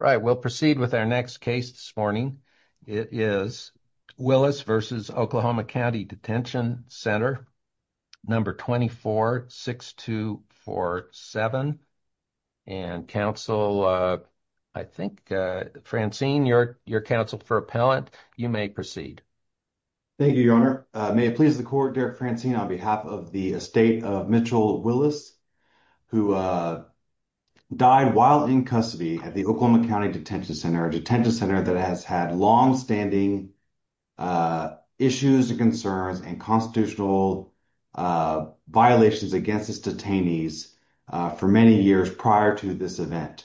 Right, we'll proceed with our next case this morning. It is Willis v. Oklahoma County Detention Center, number 246247. And counsel, I think, Francine, you're counsel for appellant. You may proceed. Thank you, your honor. May it please the court, Derek Francine, on behalf of the estate of Mitchell Willis who died while in custody at the Oklahoma County Detention Center, a detention center that has had long-standing issues and concerns and constitutional violations against its detainees for many years prior to this event.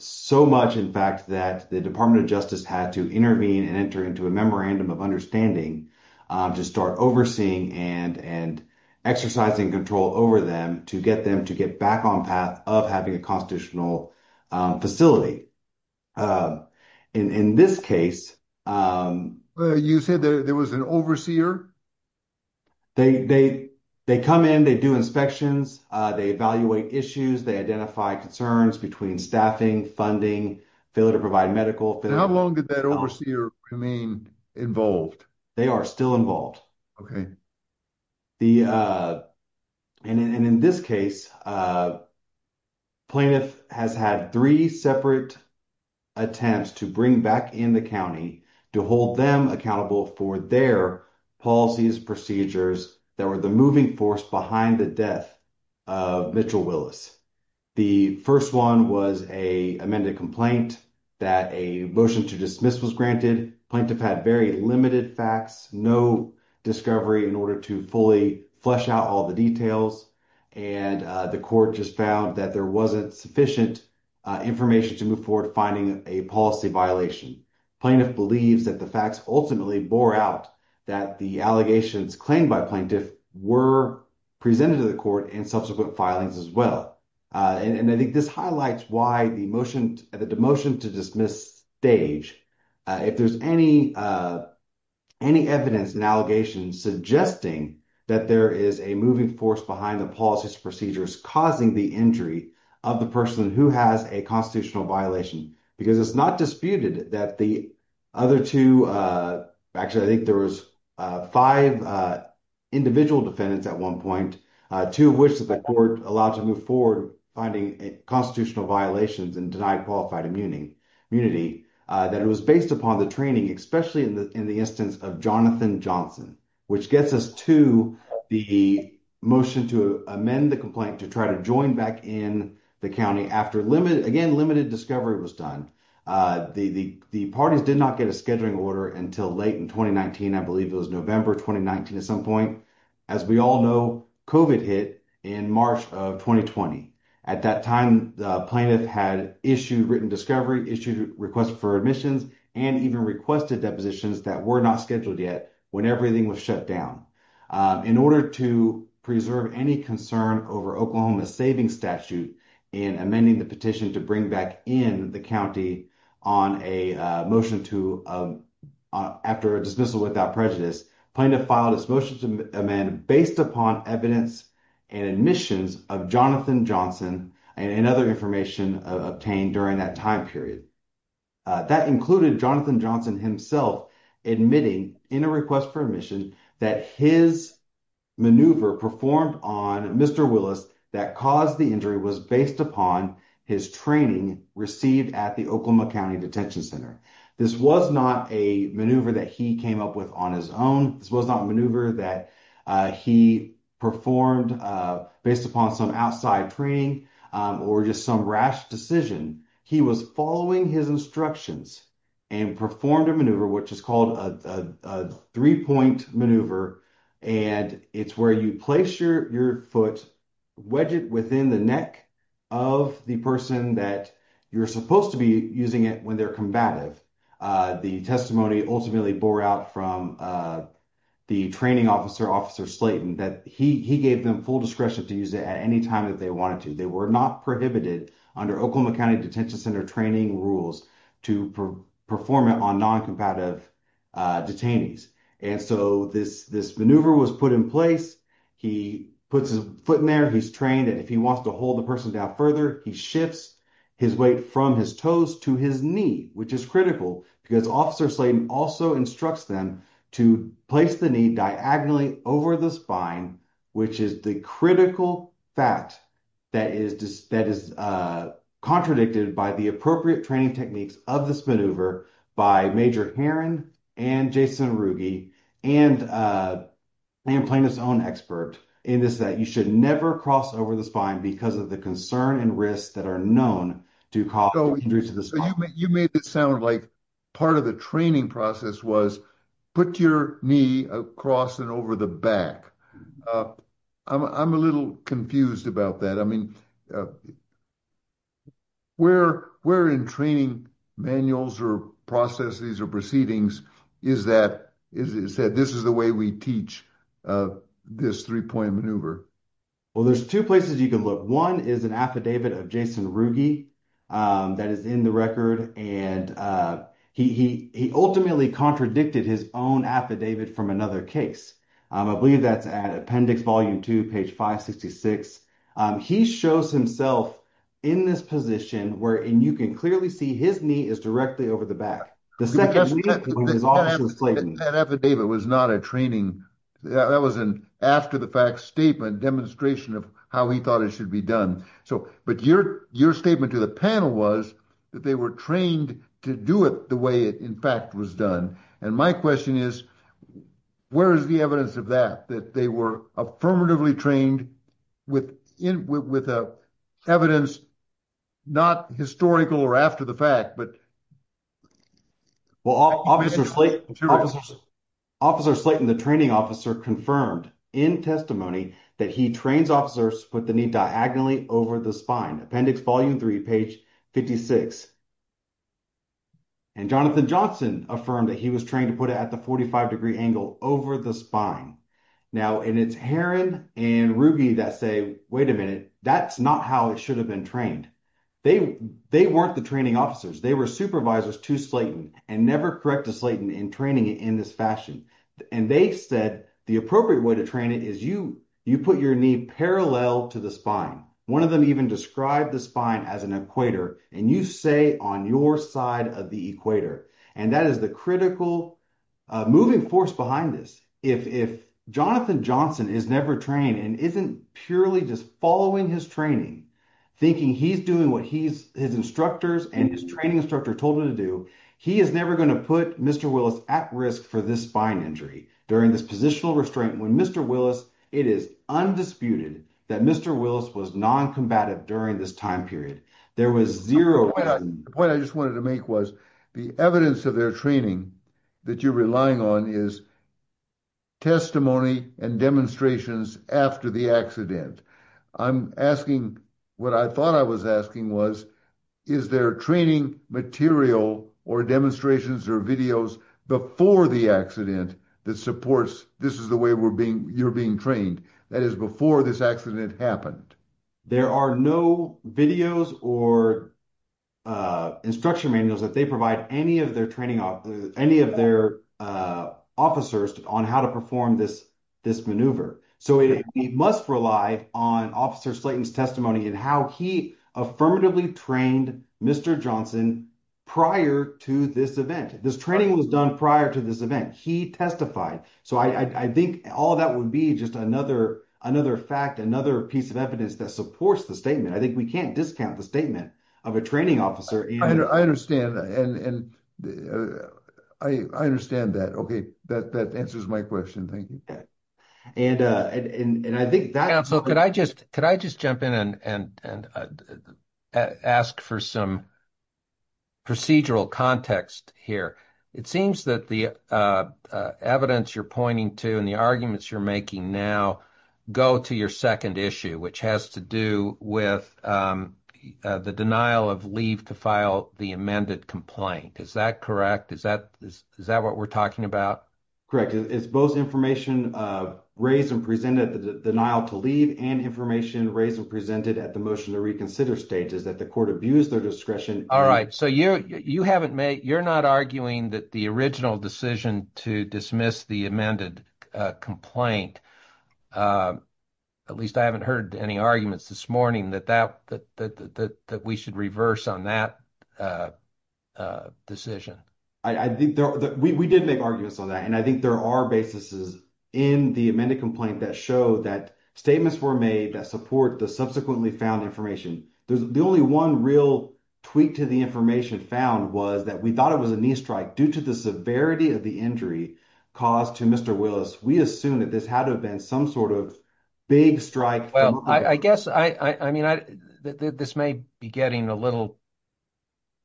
So much, in fact, that the Department of Justice had to intervene and enter into a memorandum of understanding to start overseeing and exercising control over them to get them to get back on path of having a constitutional facility. In this case... You said there was an overseer? They come in, they do inspections, they evaluate issues, they identify concerns between staffing, funding, failure to provide medical... How long did that overseer remain involved? They are still involved. Okay. And in this case, plaintiff has had three separate attempts to bring back in the county to hold them accountable for their policies, procedures that were the moving force behind the death of Mitchell Willis. The first one was an amended complaint that a motion to dismiss was granted. Plaintiff had very limited facts, no discovery in order to fully flesh out all the details. And the court just found that there wasn't sufficient information to move forward finding a policy violation. Plaintiff believes that the facts ultimately bore out that the allegations claimed by plaintiff were presented to the court in subsequent filings as well. And I think this highlights why the motion to dismiss stage, if there's any evidence in allegations suggesting that there is a moving force behind the policies, procedures causing the injury of the person who has a constitutional violation, because it's not disputed that the other two... Actually, I think there was five individual defendants at one point, two of which that the court allowed to move forward finding constitutional violations and denied qualified immunity, that it was based upon the training, especially in the instance of Jonathan Johnson, which gets us to the motion to amend the complaint to try to join back in the county after, again, limited discovery was done. The parties did not get a scheduling order until late in 2019, I believe it was November 2019 at some point. As we all know, COVID hit in March of 2020. At that time, the plaintiff had issued written discovery, issued requests for admissions, and even requested depositions that were not scheduled yet when everything was shut down. In order to preserve any concern over Oklahoma's savings statute in amending the petition to bring back in the county after a dismissal without prejudice, the plaintiff filed his motion to amend based upon evidence and admissions of Jonathan Johnson and other information obtained during that time period. That included Jonathan Johnson himself admitting in a request for admission that his maneuver performed on Mr. Willis that caused the injury was based upon his training received at the Oklahoma County Detention Center. This was not a maneuver that he came up with on his own. This was not a maneuver that he performed based upon some outside training or just some rash decision. He was following his instructions and performed a maneuver, which is called a three-point maneuver, and it's where you place your foot, wedge it within the neck of the person that you're supposed to be using it when they're combative. The testimony ultimately bore out from the training officer, Officer Slayton, that he gave them full discretion to use it at any time that they wanted to. They were not prohibited under Oklahoma County Detention Center training rules to perform it on non-combative detainees. This maneuver was put in place. He puts his foot in there. He's trained. If he wants to hold the person down further, he shifts his weight from his toes to his knee, which is critical because Officer Slayton also instructs them to place the knee diagonally over the spine, which is the critical fact that is contradicted by the appropriate training techniques of this maneuver by Major Heron and Jason Ruge and Liam Plana's own expert in this that you should never cross over the spine because of the concern and risks that are known to cause injuries to the spine. You made it sound like part of the training process was put your knee across and over the back. I'm a little confused about that. Where in training manuals or processes or proceedings is that this is the way we teach this three-point maneuver? Well, there's two places you can look. One is an affidavit of Jason Ruge that is in the record. He ultimately contradicted his own affidavit from another case. I believe that's at appendix volume two, page 566. He shows himself in this position where and you can clearly see his knee is directly over the back. The second knee is Officer Slayton. That affidavit was not a training. That was an after the fact statement demonstration of how he thought it should be done. But your statement to the panel was that they were to do it the way it in fact was done. My question is, where is the evidence of that, that they were affirmatively trained with evidence not historical or after the fact? Well, Officer Slayton, the training officer confirmed in testimony that he trains officers put the knee diagonally over the spine. Appendix volume three, page 56. And Jonathan Johnson affirmed that he was trained to put it at the 45 degree angle over the spine. Now, and it's Heron and Ruge that say, wait a minute, that's not how it should have been trained. They weren't the training officers. They were supervisors to Slayton and never correct to Slayton in training it in this fashion. And they said the appropriate way to train it is you put your knee parallel to the spine. One of them even described the spine as an equator and you say on your side of the equator. And that is the critical moving force behind this. If Jonathan Johnson is never trained and isn't purely just following his training, thinking he's doing what his instructors and his training instructor told him to do, he is never going to put Mr. Willis at risk for this injury. During this positional restraint when Mr. Willis, it is undisputed that Mr. Willis was noncombatant during this time period. There was zero. The point I just wanted to make was the evidence of their training that you're relying on is testimony and demonstrations after the accident. I'm asking what I thought I was asking was, is there training material or demonstrations or videos before the accident that supports this is the way you're being trained? That is before this accident happened. There are no videos or instruction manuals that they provide any of their officers on how to perform this maneuver. So we must rely on officer Slayton's testimony and how he affirmatively trained Mr. Johnson prior to this event. This training was done prior to this event. He testified. So I think all that would be just another fact, another piece of evidence that supports the statement. I think we can't discount the statement of a training officer. I understand that. Okay. That answers my question. Thank you. And and I think that. So could I just could I just jump in and and and ask for some procedural context here. It seems that the evidence you're pointing to and the arguments you're making now go to your second issue, which has to do with the denial of leave to file the amended complaint. Is that correct? Is that is that what we're talking about? Correct. It's both information raised and presented the denial to leave and information raised and presented at the motion to reconsider state is that the court abused their discretion. All right. So you you haven't made you're not arguing that the original decision to dismiss the amended complaint. At least I haven't heard any arguments this morning that that that that that we should reverse on that a decision. I think that we did make arguments on that. And I think there are basises in the amended complaint that show that statements were made that support the subsequently found information. There's the only one real tweak to the information found was that we thought it was a knee strike due to the severity of the injury caused to Mr. Willis. We assume that this had been some sort of big strike. Well, I guess I mean, this may be getting a little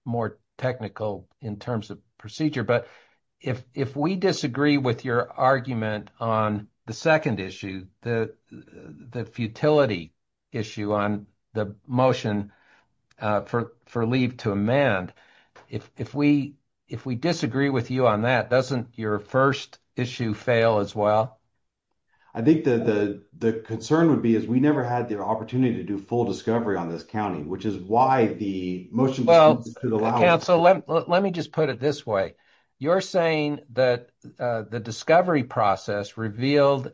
more technical in terms of procedure. But if if we disagree with your argument on the second issue, the the futility issue on the motion for for leave to amend, if we if we disagree with you on that, doesn't your first issue fail as well? I think that the concern would be is we never had the opportunity to do full discovery on this county, which is why the motion. Well, let me just put it this way. You're saying that the discovery process revealed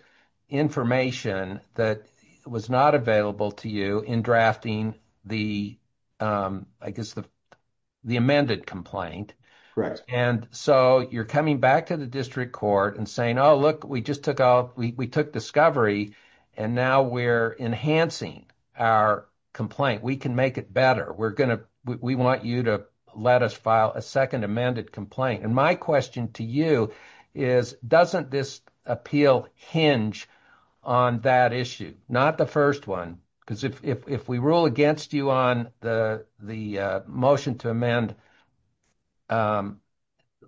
information that was not available to you in drafting the I guess the the amended complaint. Right. And so you're coming back to the district court and saying, oh, look, we just took out we took discovery and now we're enhancing our complaint. We can make it better. We're going to we want you to let us file a second amended complaint. And my question to you is, doesn't this appeal hinge on that issue? Not the first one, because if we rule against you on the the motion to amend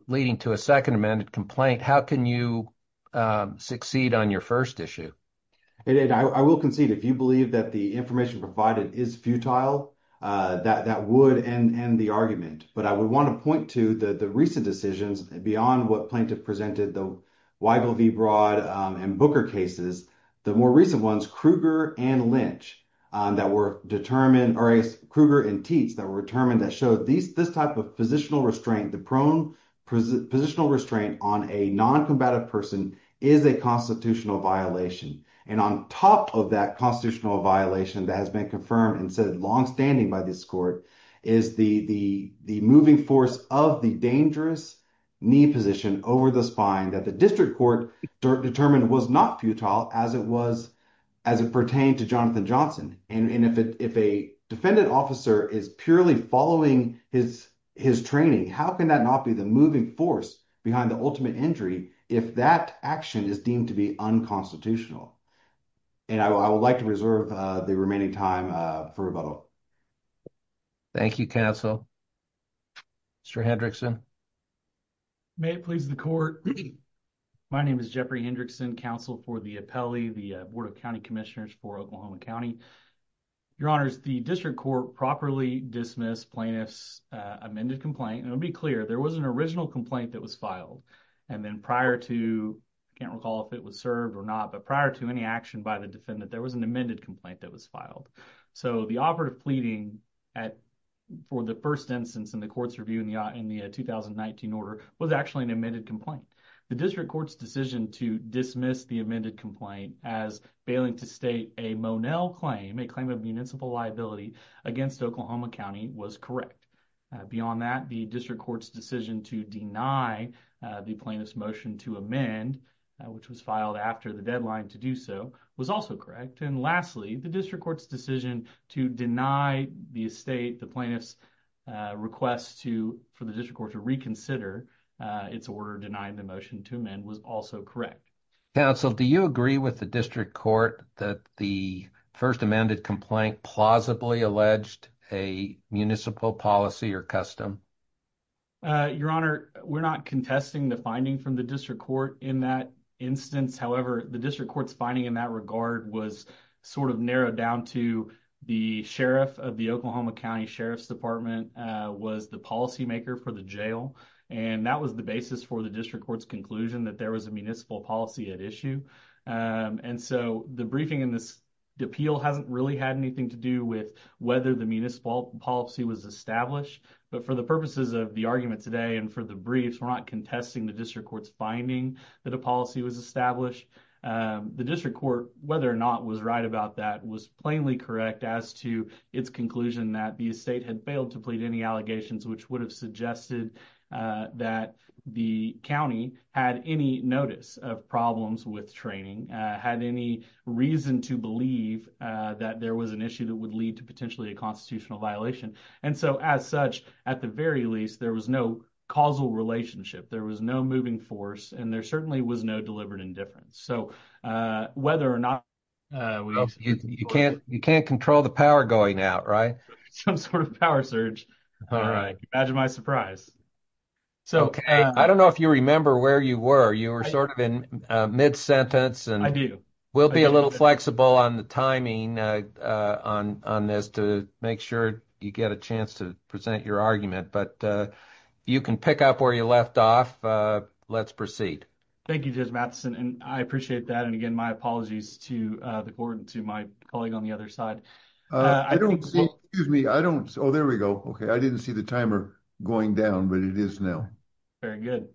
leading to a second amended complaint, how can you succeed on your first issue? I will concede if you believe that the information provided is futile, that that would end the argument. But I would want to point to the recent decisions beyond what plaintiff presented, the Weigel v. Broad and Booker cases, the more that were determined or Kruger and Teets that were determined that showed these this type of positional restraint, the prone positional restraint on a noncombatant person is a constitutional violation. And on top of that constitutional violation that has been confirmed and said longstanding by this court is the the the moving force of the dangerous knee position over the spine that the district court determined was not futile as it was as it pertained to Jonathan Johnson. And if a defendant officer is purely following his his training, how can that not be the moving force behind the ultimate injury if that action is deemed to be unconstitutional? And I would like to reserve the remaining time for rebuttal. Thank you, counsel. Mr. Hendrickson. May it please the court. My name is Jeffrey Hendrickson, counsel for the appellee, the board of county commissioners for Oklahoma County. Your honors, the district court properly dismissed plaintiff's amended complaint. And it'll be clear there was an original complaint that was filed. And then prior to I can't recall if it was served or not, but prior to any action by the defendant, there was an amended complaint that was filed. So the offer of pleading at for the first instance in the court's review in the in the 2019 order was actually an amended complaint. The district court's decision to dismiss the amended complaint as failing to state a Monell claim, a claim of municipal liability against Oklahoma County was correct. Beyond that, the district court's decision to deny the plaintiff's motion to amend, which was filed after the deadline to do so, was also correct. And lastly, the district court's decision to deny the estate the plaintiff's request to for the district court to reconsider its order denying the motion to amend was also correct. Counsel, do you agree with the district court that the first amended complaint plausibly alleged a municipal policy or custom? Your honor, we're not contesting the finding from the district court in that instance. However, the district court's finding in that regard was sort of narrowed down to the sheriff of the Oklahoma County Sheriff's Department was the policymaker for the jail. And that was the basis for the district court's conclusion that there was a municipal policy at issue. And so the briefing in this appeal hasn't really had anything to do with whether the municipal policy was established. But for the purposes of the argument today and for the briefs, we're not contesting the district court's finding that a policy was established. The district court, whether or not was right about that, was plainly correct as to its conclusion that the estate had failed to plead any allegations, which would have suggested that the county had any notice of problems with training, had any reason to believe that there was an issue that would lead to potentially a constitutional violation. And so as such, at the very least, there was no causal relationship. There was no force and there certainly was no deliberate indifference. So whether or not you can't control the power going out, right? Some sort of power surge. All right. That's my surprise. So I don't know if you remember where you were. You were sort of in mid-sentence and I do. We'll be a little flexible on the timing on this to make sure you get a chance to present your argument. But you can pick up where you left off. Let's proceed. Thank you, Judge Matheson. And I appreciate that. And again, my apologies to the board and to my colleague on the other side. Oh, there we go. Okay. I didn't see the timer going down, but it is now. Very good.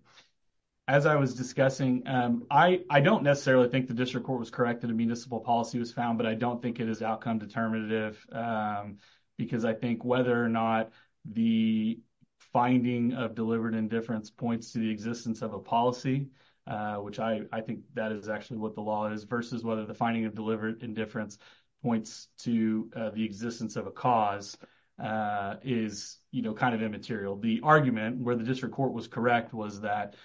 As I was discussing, I don't necessarily think the district court was correct that a municipal policy was found, but I don't think it is outcome determinative because I think whether or not the finding of delivered indifference points to the existence of a policy, which I think that is actually what the law is, versus whether the finding of delivered indifference points to the existence of a cause, is kind of immaterial. The argument where the district court was correct was that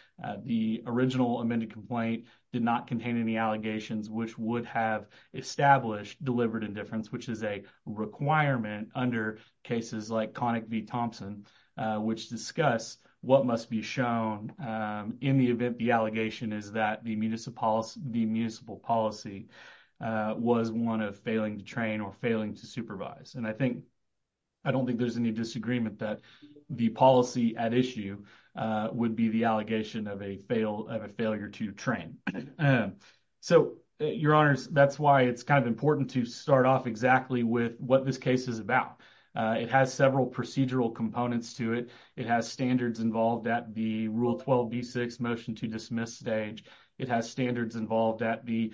the original amended complaint did not contain any allegations which would have established delivered indifference, which is a requirement under cases like Connick v. Thompson, which discuss what must be shown in the event the allegation is that the municipal policy was one of failing to train or failing to supervise. And I don't think there's any disagreement that the policy at issue would be the allegation of a failure to train. So, your honors, that's why it's kind of important to start off exactly with what this case is about. It has several procedural components to it. It has standards involved at the Rule 12b6 motion to dismiss stage. It has standards involved at the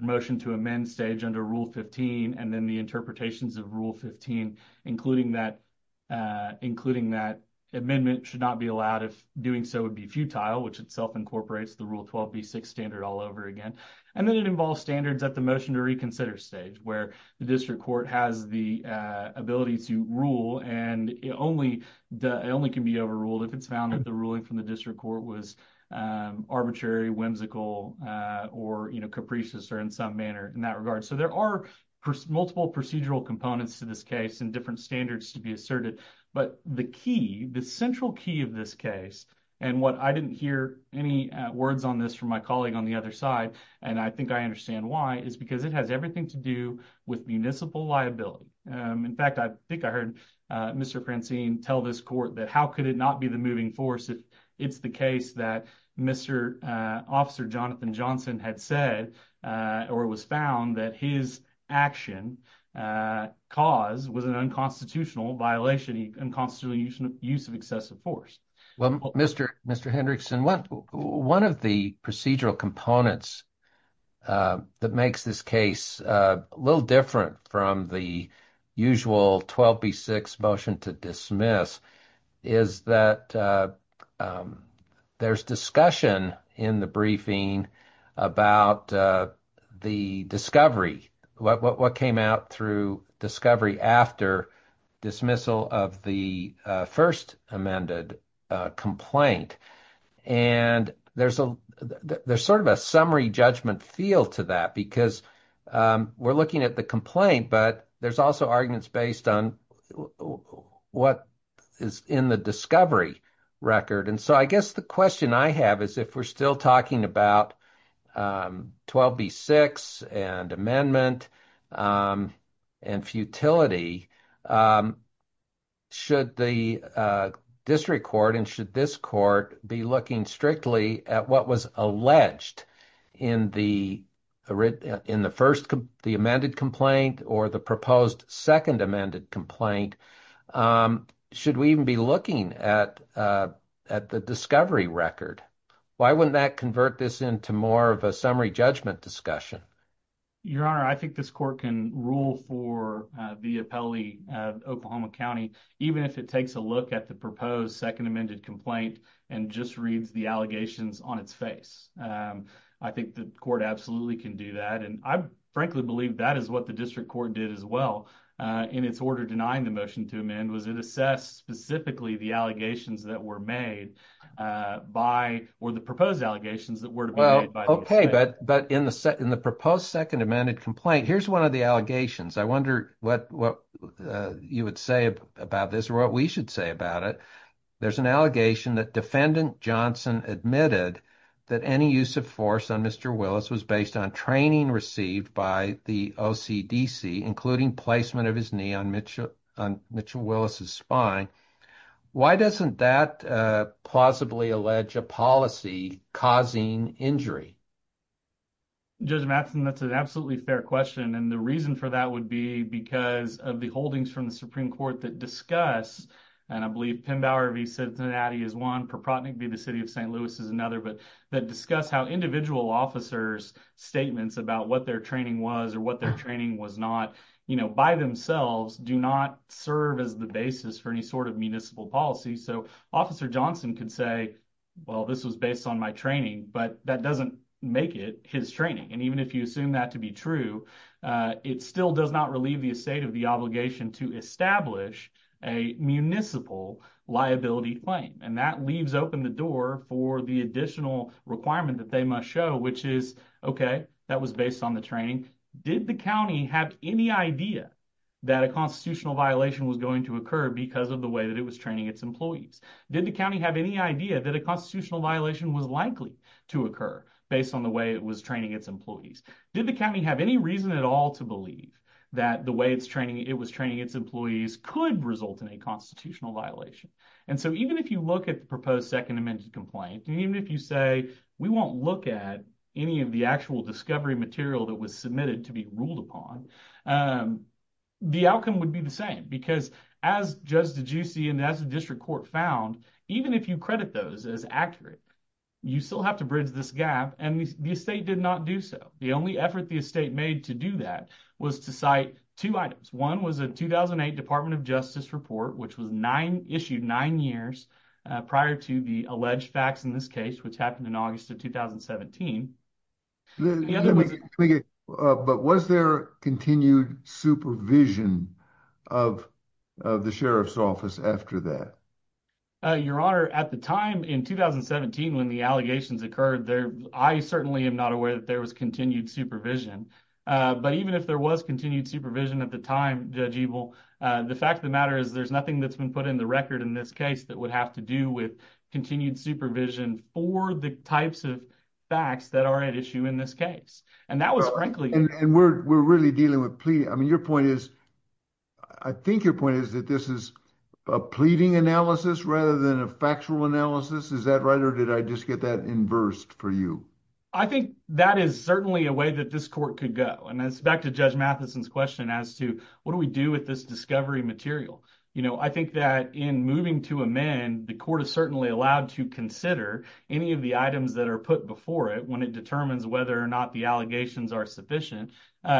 motion to amend stage under Rule 15 and then the interpretations of Rule 15, including that amendment should not be allowed if doing so would be futile, which itself incorporates the Rule 12b6 standard all over again. And then it involves standards at the motion to reconsider stage, where the district court has the ability to rule and it only can be overruled if it's found that the ruling from the district court was arbitrary, whimsical, or capricious in some manner in that regard. So, there are multiple procedural components to this case and different standards to be asserted. But the key, the central key of this case, and what I didn't hear any words on this from my colleague on the other side, and I think I understand why, is because it has everything to do with municipal liability. In fact, I think I heard Mr. Francine tell this court that how could it not be the moving force if it's the case that Mr. Officer Jonathan Johnson had said or was found that his action cause was an unconstitutional violation, unconstitutional use of excessive force. Well, Mr. Hendrickson, one of the procedural components that makes this case a little different from the usual 12b6 motion to dismiss is that there's discussion in the briefing about the discovery, what came out through discovery after dismissal of the first amended complaint. And there's sort of a summary judgment feel to that because we're looking at the complaint, but there's also arguments based on what is in the discovery record. And so, I guess the question I have is if we're still talking about 12b6 and amendment and futility, should the district court and should this court be looking strictly at what was alleged in the first, the amended complaint or the proposed second amended complaint? Should we even be looking at the discovery record? Why wouldn't that convert this into more of a summary judgment discussion? Your Honor, I think this court can rule for the appellee of Oklahoma County, even if it takes a look at the proposed second amended complaint and just reads the allegations on its face. I think the court absolutely can do that. And I frankly believe that is what the district court did as well. In its order denying the motion to amend, was it assessed specifically the allegations that were made by or the proposed allegations that were to be made by the district? Okay, but in the proposed second amended complaint, here's one of the allegations. I wonder what you would say about this or what we should say about it. There's an allegation that defendant Johnson admitted that any use of force on Mr. Willis was based on training received by the OCDC, including placement of his knee on Mitchell Willis' spine. Why doesn't that plausibly allege a policy causing injury? Judge Matheson, that's an absolutely fair question. And the reason for that would be because of the holdings from the Supreme Court that discuss, and I believe Pembauer v. Cincinnati is one, Propotnick v. the City of St. Louis is another, that discuss how individual officers' statements about what their training was or what their training was not by themselves do not serve as the basis for any sort of municipal policy. So Officer Johnson could say, well, this was based on my training, but that doesn't make it his training. And even if you assume that to be true, it still does not relieve the estate of the obligation to establish a municipal liability claim. And that leaves open the door for the additional requirement that they must show, which is, okay, that was based on the training. Did the county have any idea that a constitutional violation was going to occur because of the way that it was training its employees? Did the county have any idea that a constitutional violation was likely to occur based on the way it was training its employees? Did the county have any reason at all to believe that the way it was training its employees could result in a We won't look at any of the actual discovery material that was submitted to be ruled upon. The outcome would be the same because as Judge DeGiussi and as the district court found, even if you credit those as accurate, you still have to bridge this gap and the estate did not do so. The only effort the estate made to do that was to cite two items. One was a 2008 Department of Justice report, which was issued nine years prior to the alleged facts in this case, which happened in August of 2017. But was there continued supervision of the sheriff's office after that? Your Honor, at the time in 2017 when the allegations occurred, I certainly am not aware that there was continued supervision. But even if there was continued supervision at the time, Judge Ebel, the fact of the matter is there's nothing that's been put in the record in this case that would have to do with continued supervision for the types of facts that are at issue in this case. And that was frankly... And we're really dealing with pleading. I mean, your point is, I think your point is that this is a pleading analysis rather than a factual analysis. Is that right? Or did I just get that inversed for you? I think that is certainly a way that this court could go. And it's back to Judge Matheson's as to what do we do with this discovery material? I think that in moving to amend, the court is certainly allowed to consider any of the items that are put before it when it determines whether or not the allegations are sufficient,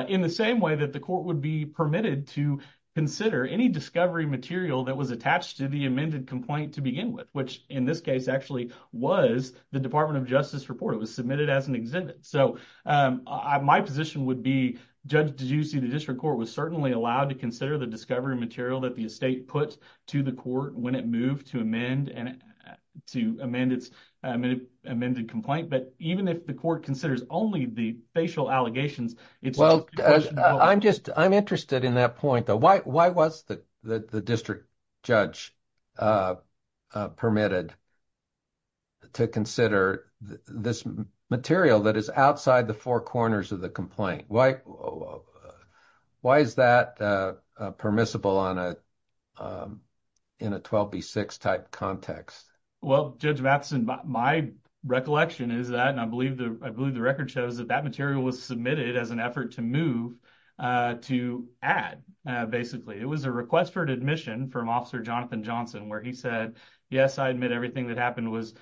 in the same way that the court would be permitted to consider any discovery material that was attached to the amended complaint to begin with, which in this case actually was the Department of Justice report. It was submitted as an exhibit. So my position would be, Judge, did you see the district court was certainly allowed to consider the discovery material that the estate put to the court when it moved to amend its amended complaint? But even if the court considers only the facial allegations, it's... Well, I'm interested in that point though. Why was the district judge permitted to consider this material that is outside the four corners of the complaint? Why is that permissible in a 12B6 type context? Well, Judge Matheson, my recollection is that, and I believe the record shows that that material was submitted as an effort to move to add, basically. It was a request for admission from Officer Jonathan Johnson, where he said, yes, I admit everything that happened was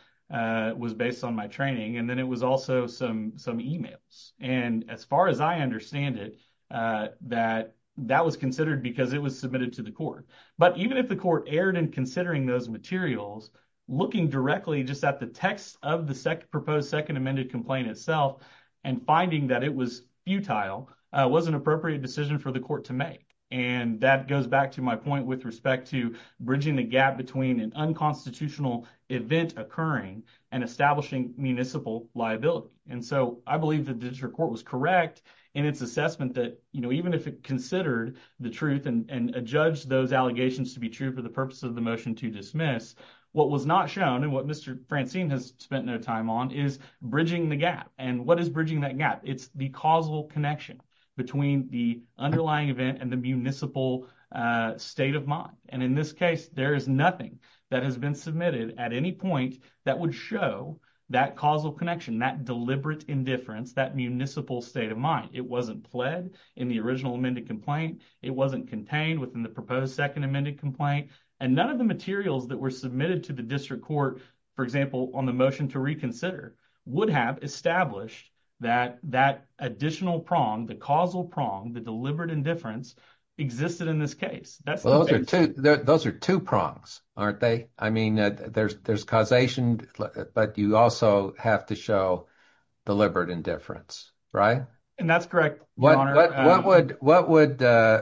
based on my training. And then it was also some emails. And as far as I understand it, that was considered because it was submitted to the court. But even if the court erred in considering those materials, looking directly just at the text of the proposed second amended complaint itself, and finding that it was futile, was an appropriate decision for the court to make. And that goes back to my point with respect to bridging the gap between an unconstitutional event occurring and establishing municipal liability. And so I believe the district court was correct in its assessment that even if it considered the truth and judged those allegations to be true for the purpose of the motion to dismiss, what was not shown, and what Mr. Francine has spent no time on, is bridging the gap. And what is bridging that gap? It's the causal connection between the underlying event and the municipal state of mind. And in this case, there is nothing that has been submitted at any point that would show that causal connection, that deliberate indifference, that municipal state of mind. It wasn't pled in the original amended complaint. It wasn't contained within the proposed second amended complaint. And none of the materials that were submitted to the district court, for example, on the motion to reconsider, would have established that that additional prong, the causal prong, the deliberate indifference, existed in this case. Well, those are two prongs, aren't they? I mean, there's causation, but you also have to show deliberate indifference, right? And that's correct, Your Honor. What would the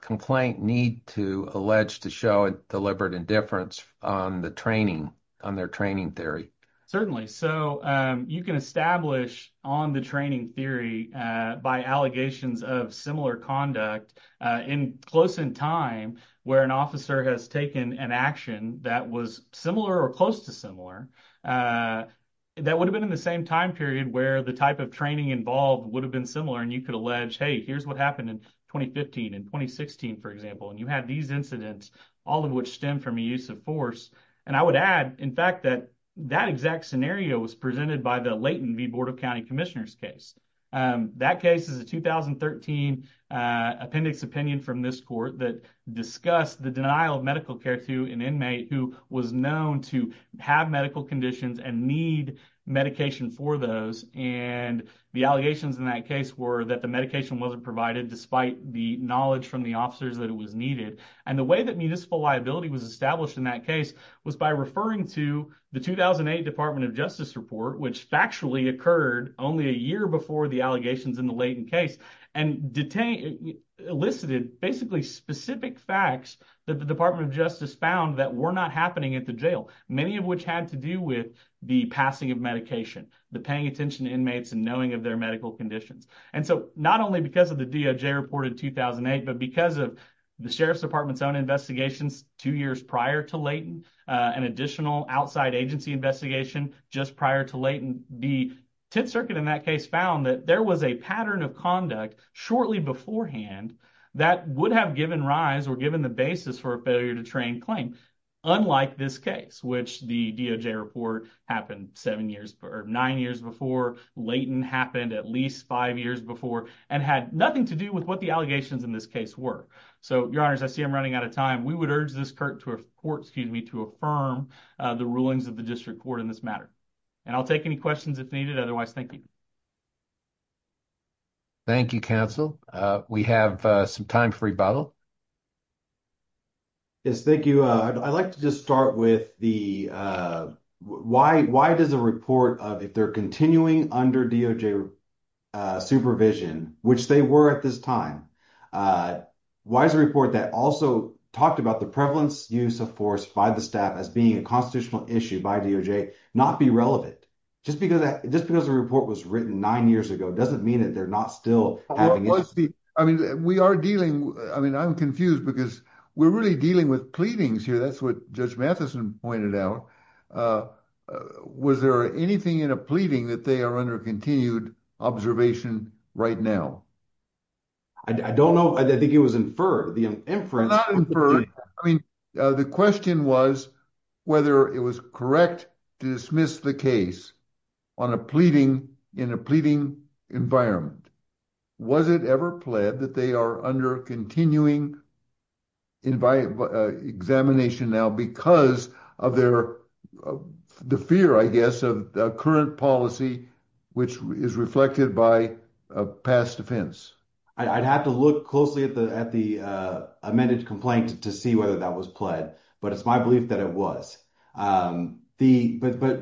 complaint need to allege to show deliberate indifference on the training, on their training theory? Certainly. So, you can establish on the training theory by allegations of similar conduct close in time where an officer has taken an action that was similar or close to similar, that would have been in the same time period where the type of training involved would have been similar. And you could allege, hey, here's what happened in 2015 and 2016, for example. And you had these incidents, all of which stem from a use of force. And I would add, in fact, that exact scenario was presented by the Leighton v. Bordeaux County Commissioner's case. That case is a 2013 appendix opinion from this court that discussed the denial of medical care to an inmate who was known to have medical conditions and need medication for those. And the allegations in that case were that the medication wasn't provided despite the knowledge from the officers that it was needed. And the way that municipal liability was established in that case was by referring to the 2008 Department of Justice report, which factually occurred only a year before the allegations in the Leighton case, and elicited basically specific facts that the Department of Justice found that were not happening at the jail, many of which had to do with the passing of medication, the paying attention to inmates and knowing of their medical conditions. And so, not only because of the DOJ report in 2008, but because of the Sheriff's Department's own investigations two years prior to Leighton, an additional outside agency investigation just prior to Leighton, the Tenth Circuit in that case found that there was a pattern of conduct shortly beforehand that would have given rise or given the basis for a failure-to-train claim, unlike this case, which the DOJ report happened nine years before, Leighton happened at least five years before, and had nothing to do with what the allegations in this case were. So, your honors, I see I'm running out of time. We would urge this court to affirm the rulings of the district court in this matter. And I'll take any questions if needed. Otherwise, thank you. Thank you, counsel. We have some time for rebuttal. Yes, thank you. I'd like to just start with the why does a report, if they're continuing under DOJ supervision, which they were at this time, why does a report that also talked about the prevalence use of force by the staff as being a constitutional issue by DOJ not be relevant? Just because the report was written nine years ago doesn't mean that they're not still having- I mean, we are dealing, I mean, I'm confused because we're really dealing with pleadings here. That's what Judge Matheson pointed out. Was there anything in a pleading that they are under continued observation right now? I don't know. I think it was inferred, the inference. Not inferred. I mean, the question was whether it was correct to dismiss the case on a pleading in a pleading environment. Was it ever pled that they are under continuing examination now because of the fear, I guess, of the current policy, which is reflected by past offense? I'd have to look closely at the amended complaint to see whether that was pled, but it's my belief that it was. But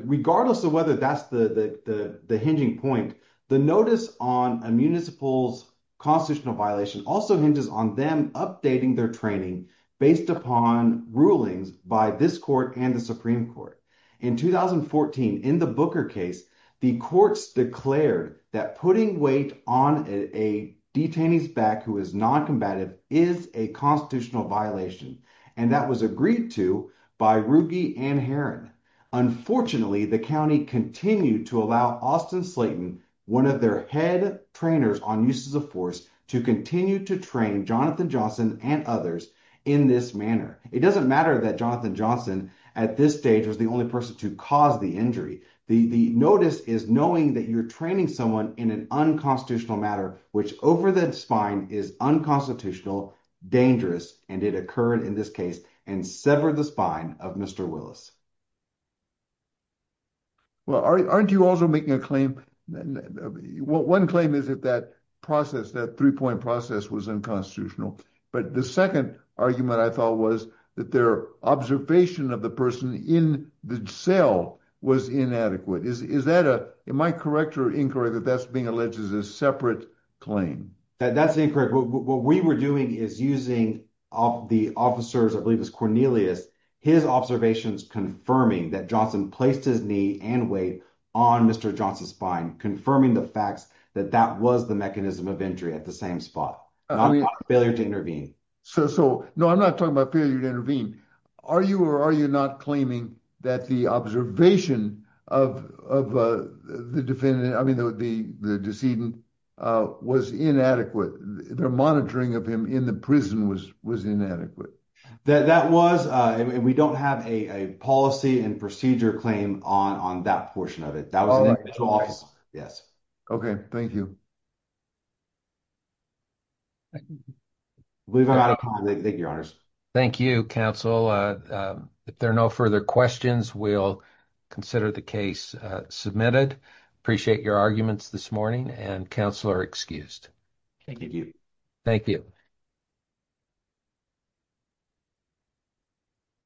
regardless of whether that's the hinging point, the notice on a municipal's constitutional violation also hinges on them updating their training based upon rulings by this court and the Supreme Court. In 2014, in the Booker case, the courts declared that putting weight on a detainee's back who is non-combative is a constitutional violation, and that was agreed to by Ruge and Herron. Unfortunately, the county continued to allow Austin Slayton, one of their head trainers on uses of force, to continue to train Jonathan Johnson and others in this manner. It doesn't matter that Jonathan Johnson at this stage was the only person to cause the injury. The notice is knowing that you're training someone in an unconstitutional matter, which over the spine is unconstitutional, dangerous, and it occurred in this case and severed the spine of Mr. Willis. Well, aren't you also making a claim? One claim is that that process, that three-point process, was unconstitutional, but the second argument I thought was that their observation of the person in the cell was inadequate. Am I correct or incorrect that that's being alleged as a separate claim? That's incorrect. What we were doing is using the officers, I believe it was Cornelius, his observations confirming that Johnson placed his knee and weight on Mr. Johnson's spine, confirming the facts that that was the mechanism of injury at the same spot, not failure to No, I'm not talking about failure to intervene. Are you or are you not claiming that the observation of the defendant, I mean the decedent, was inadequate? Their monitoring of him in the prison was inadequate? That was, and we don't have a policy and procedure claim on that portion of it. That was an individual office. Yes. Okay, thank you. We've run out of time. Thank you, your honors. Thank you, counsel. If there are no further questions, we'll consider the case submitted. Appreciate your arguments this morning, and counsel are excused. Thank you. Thank you.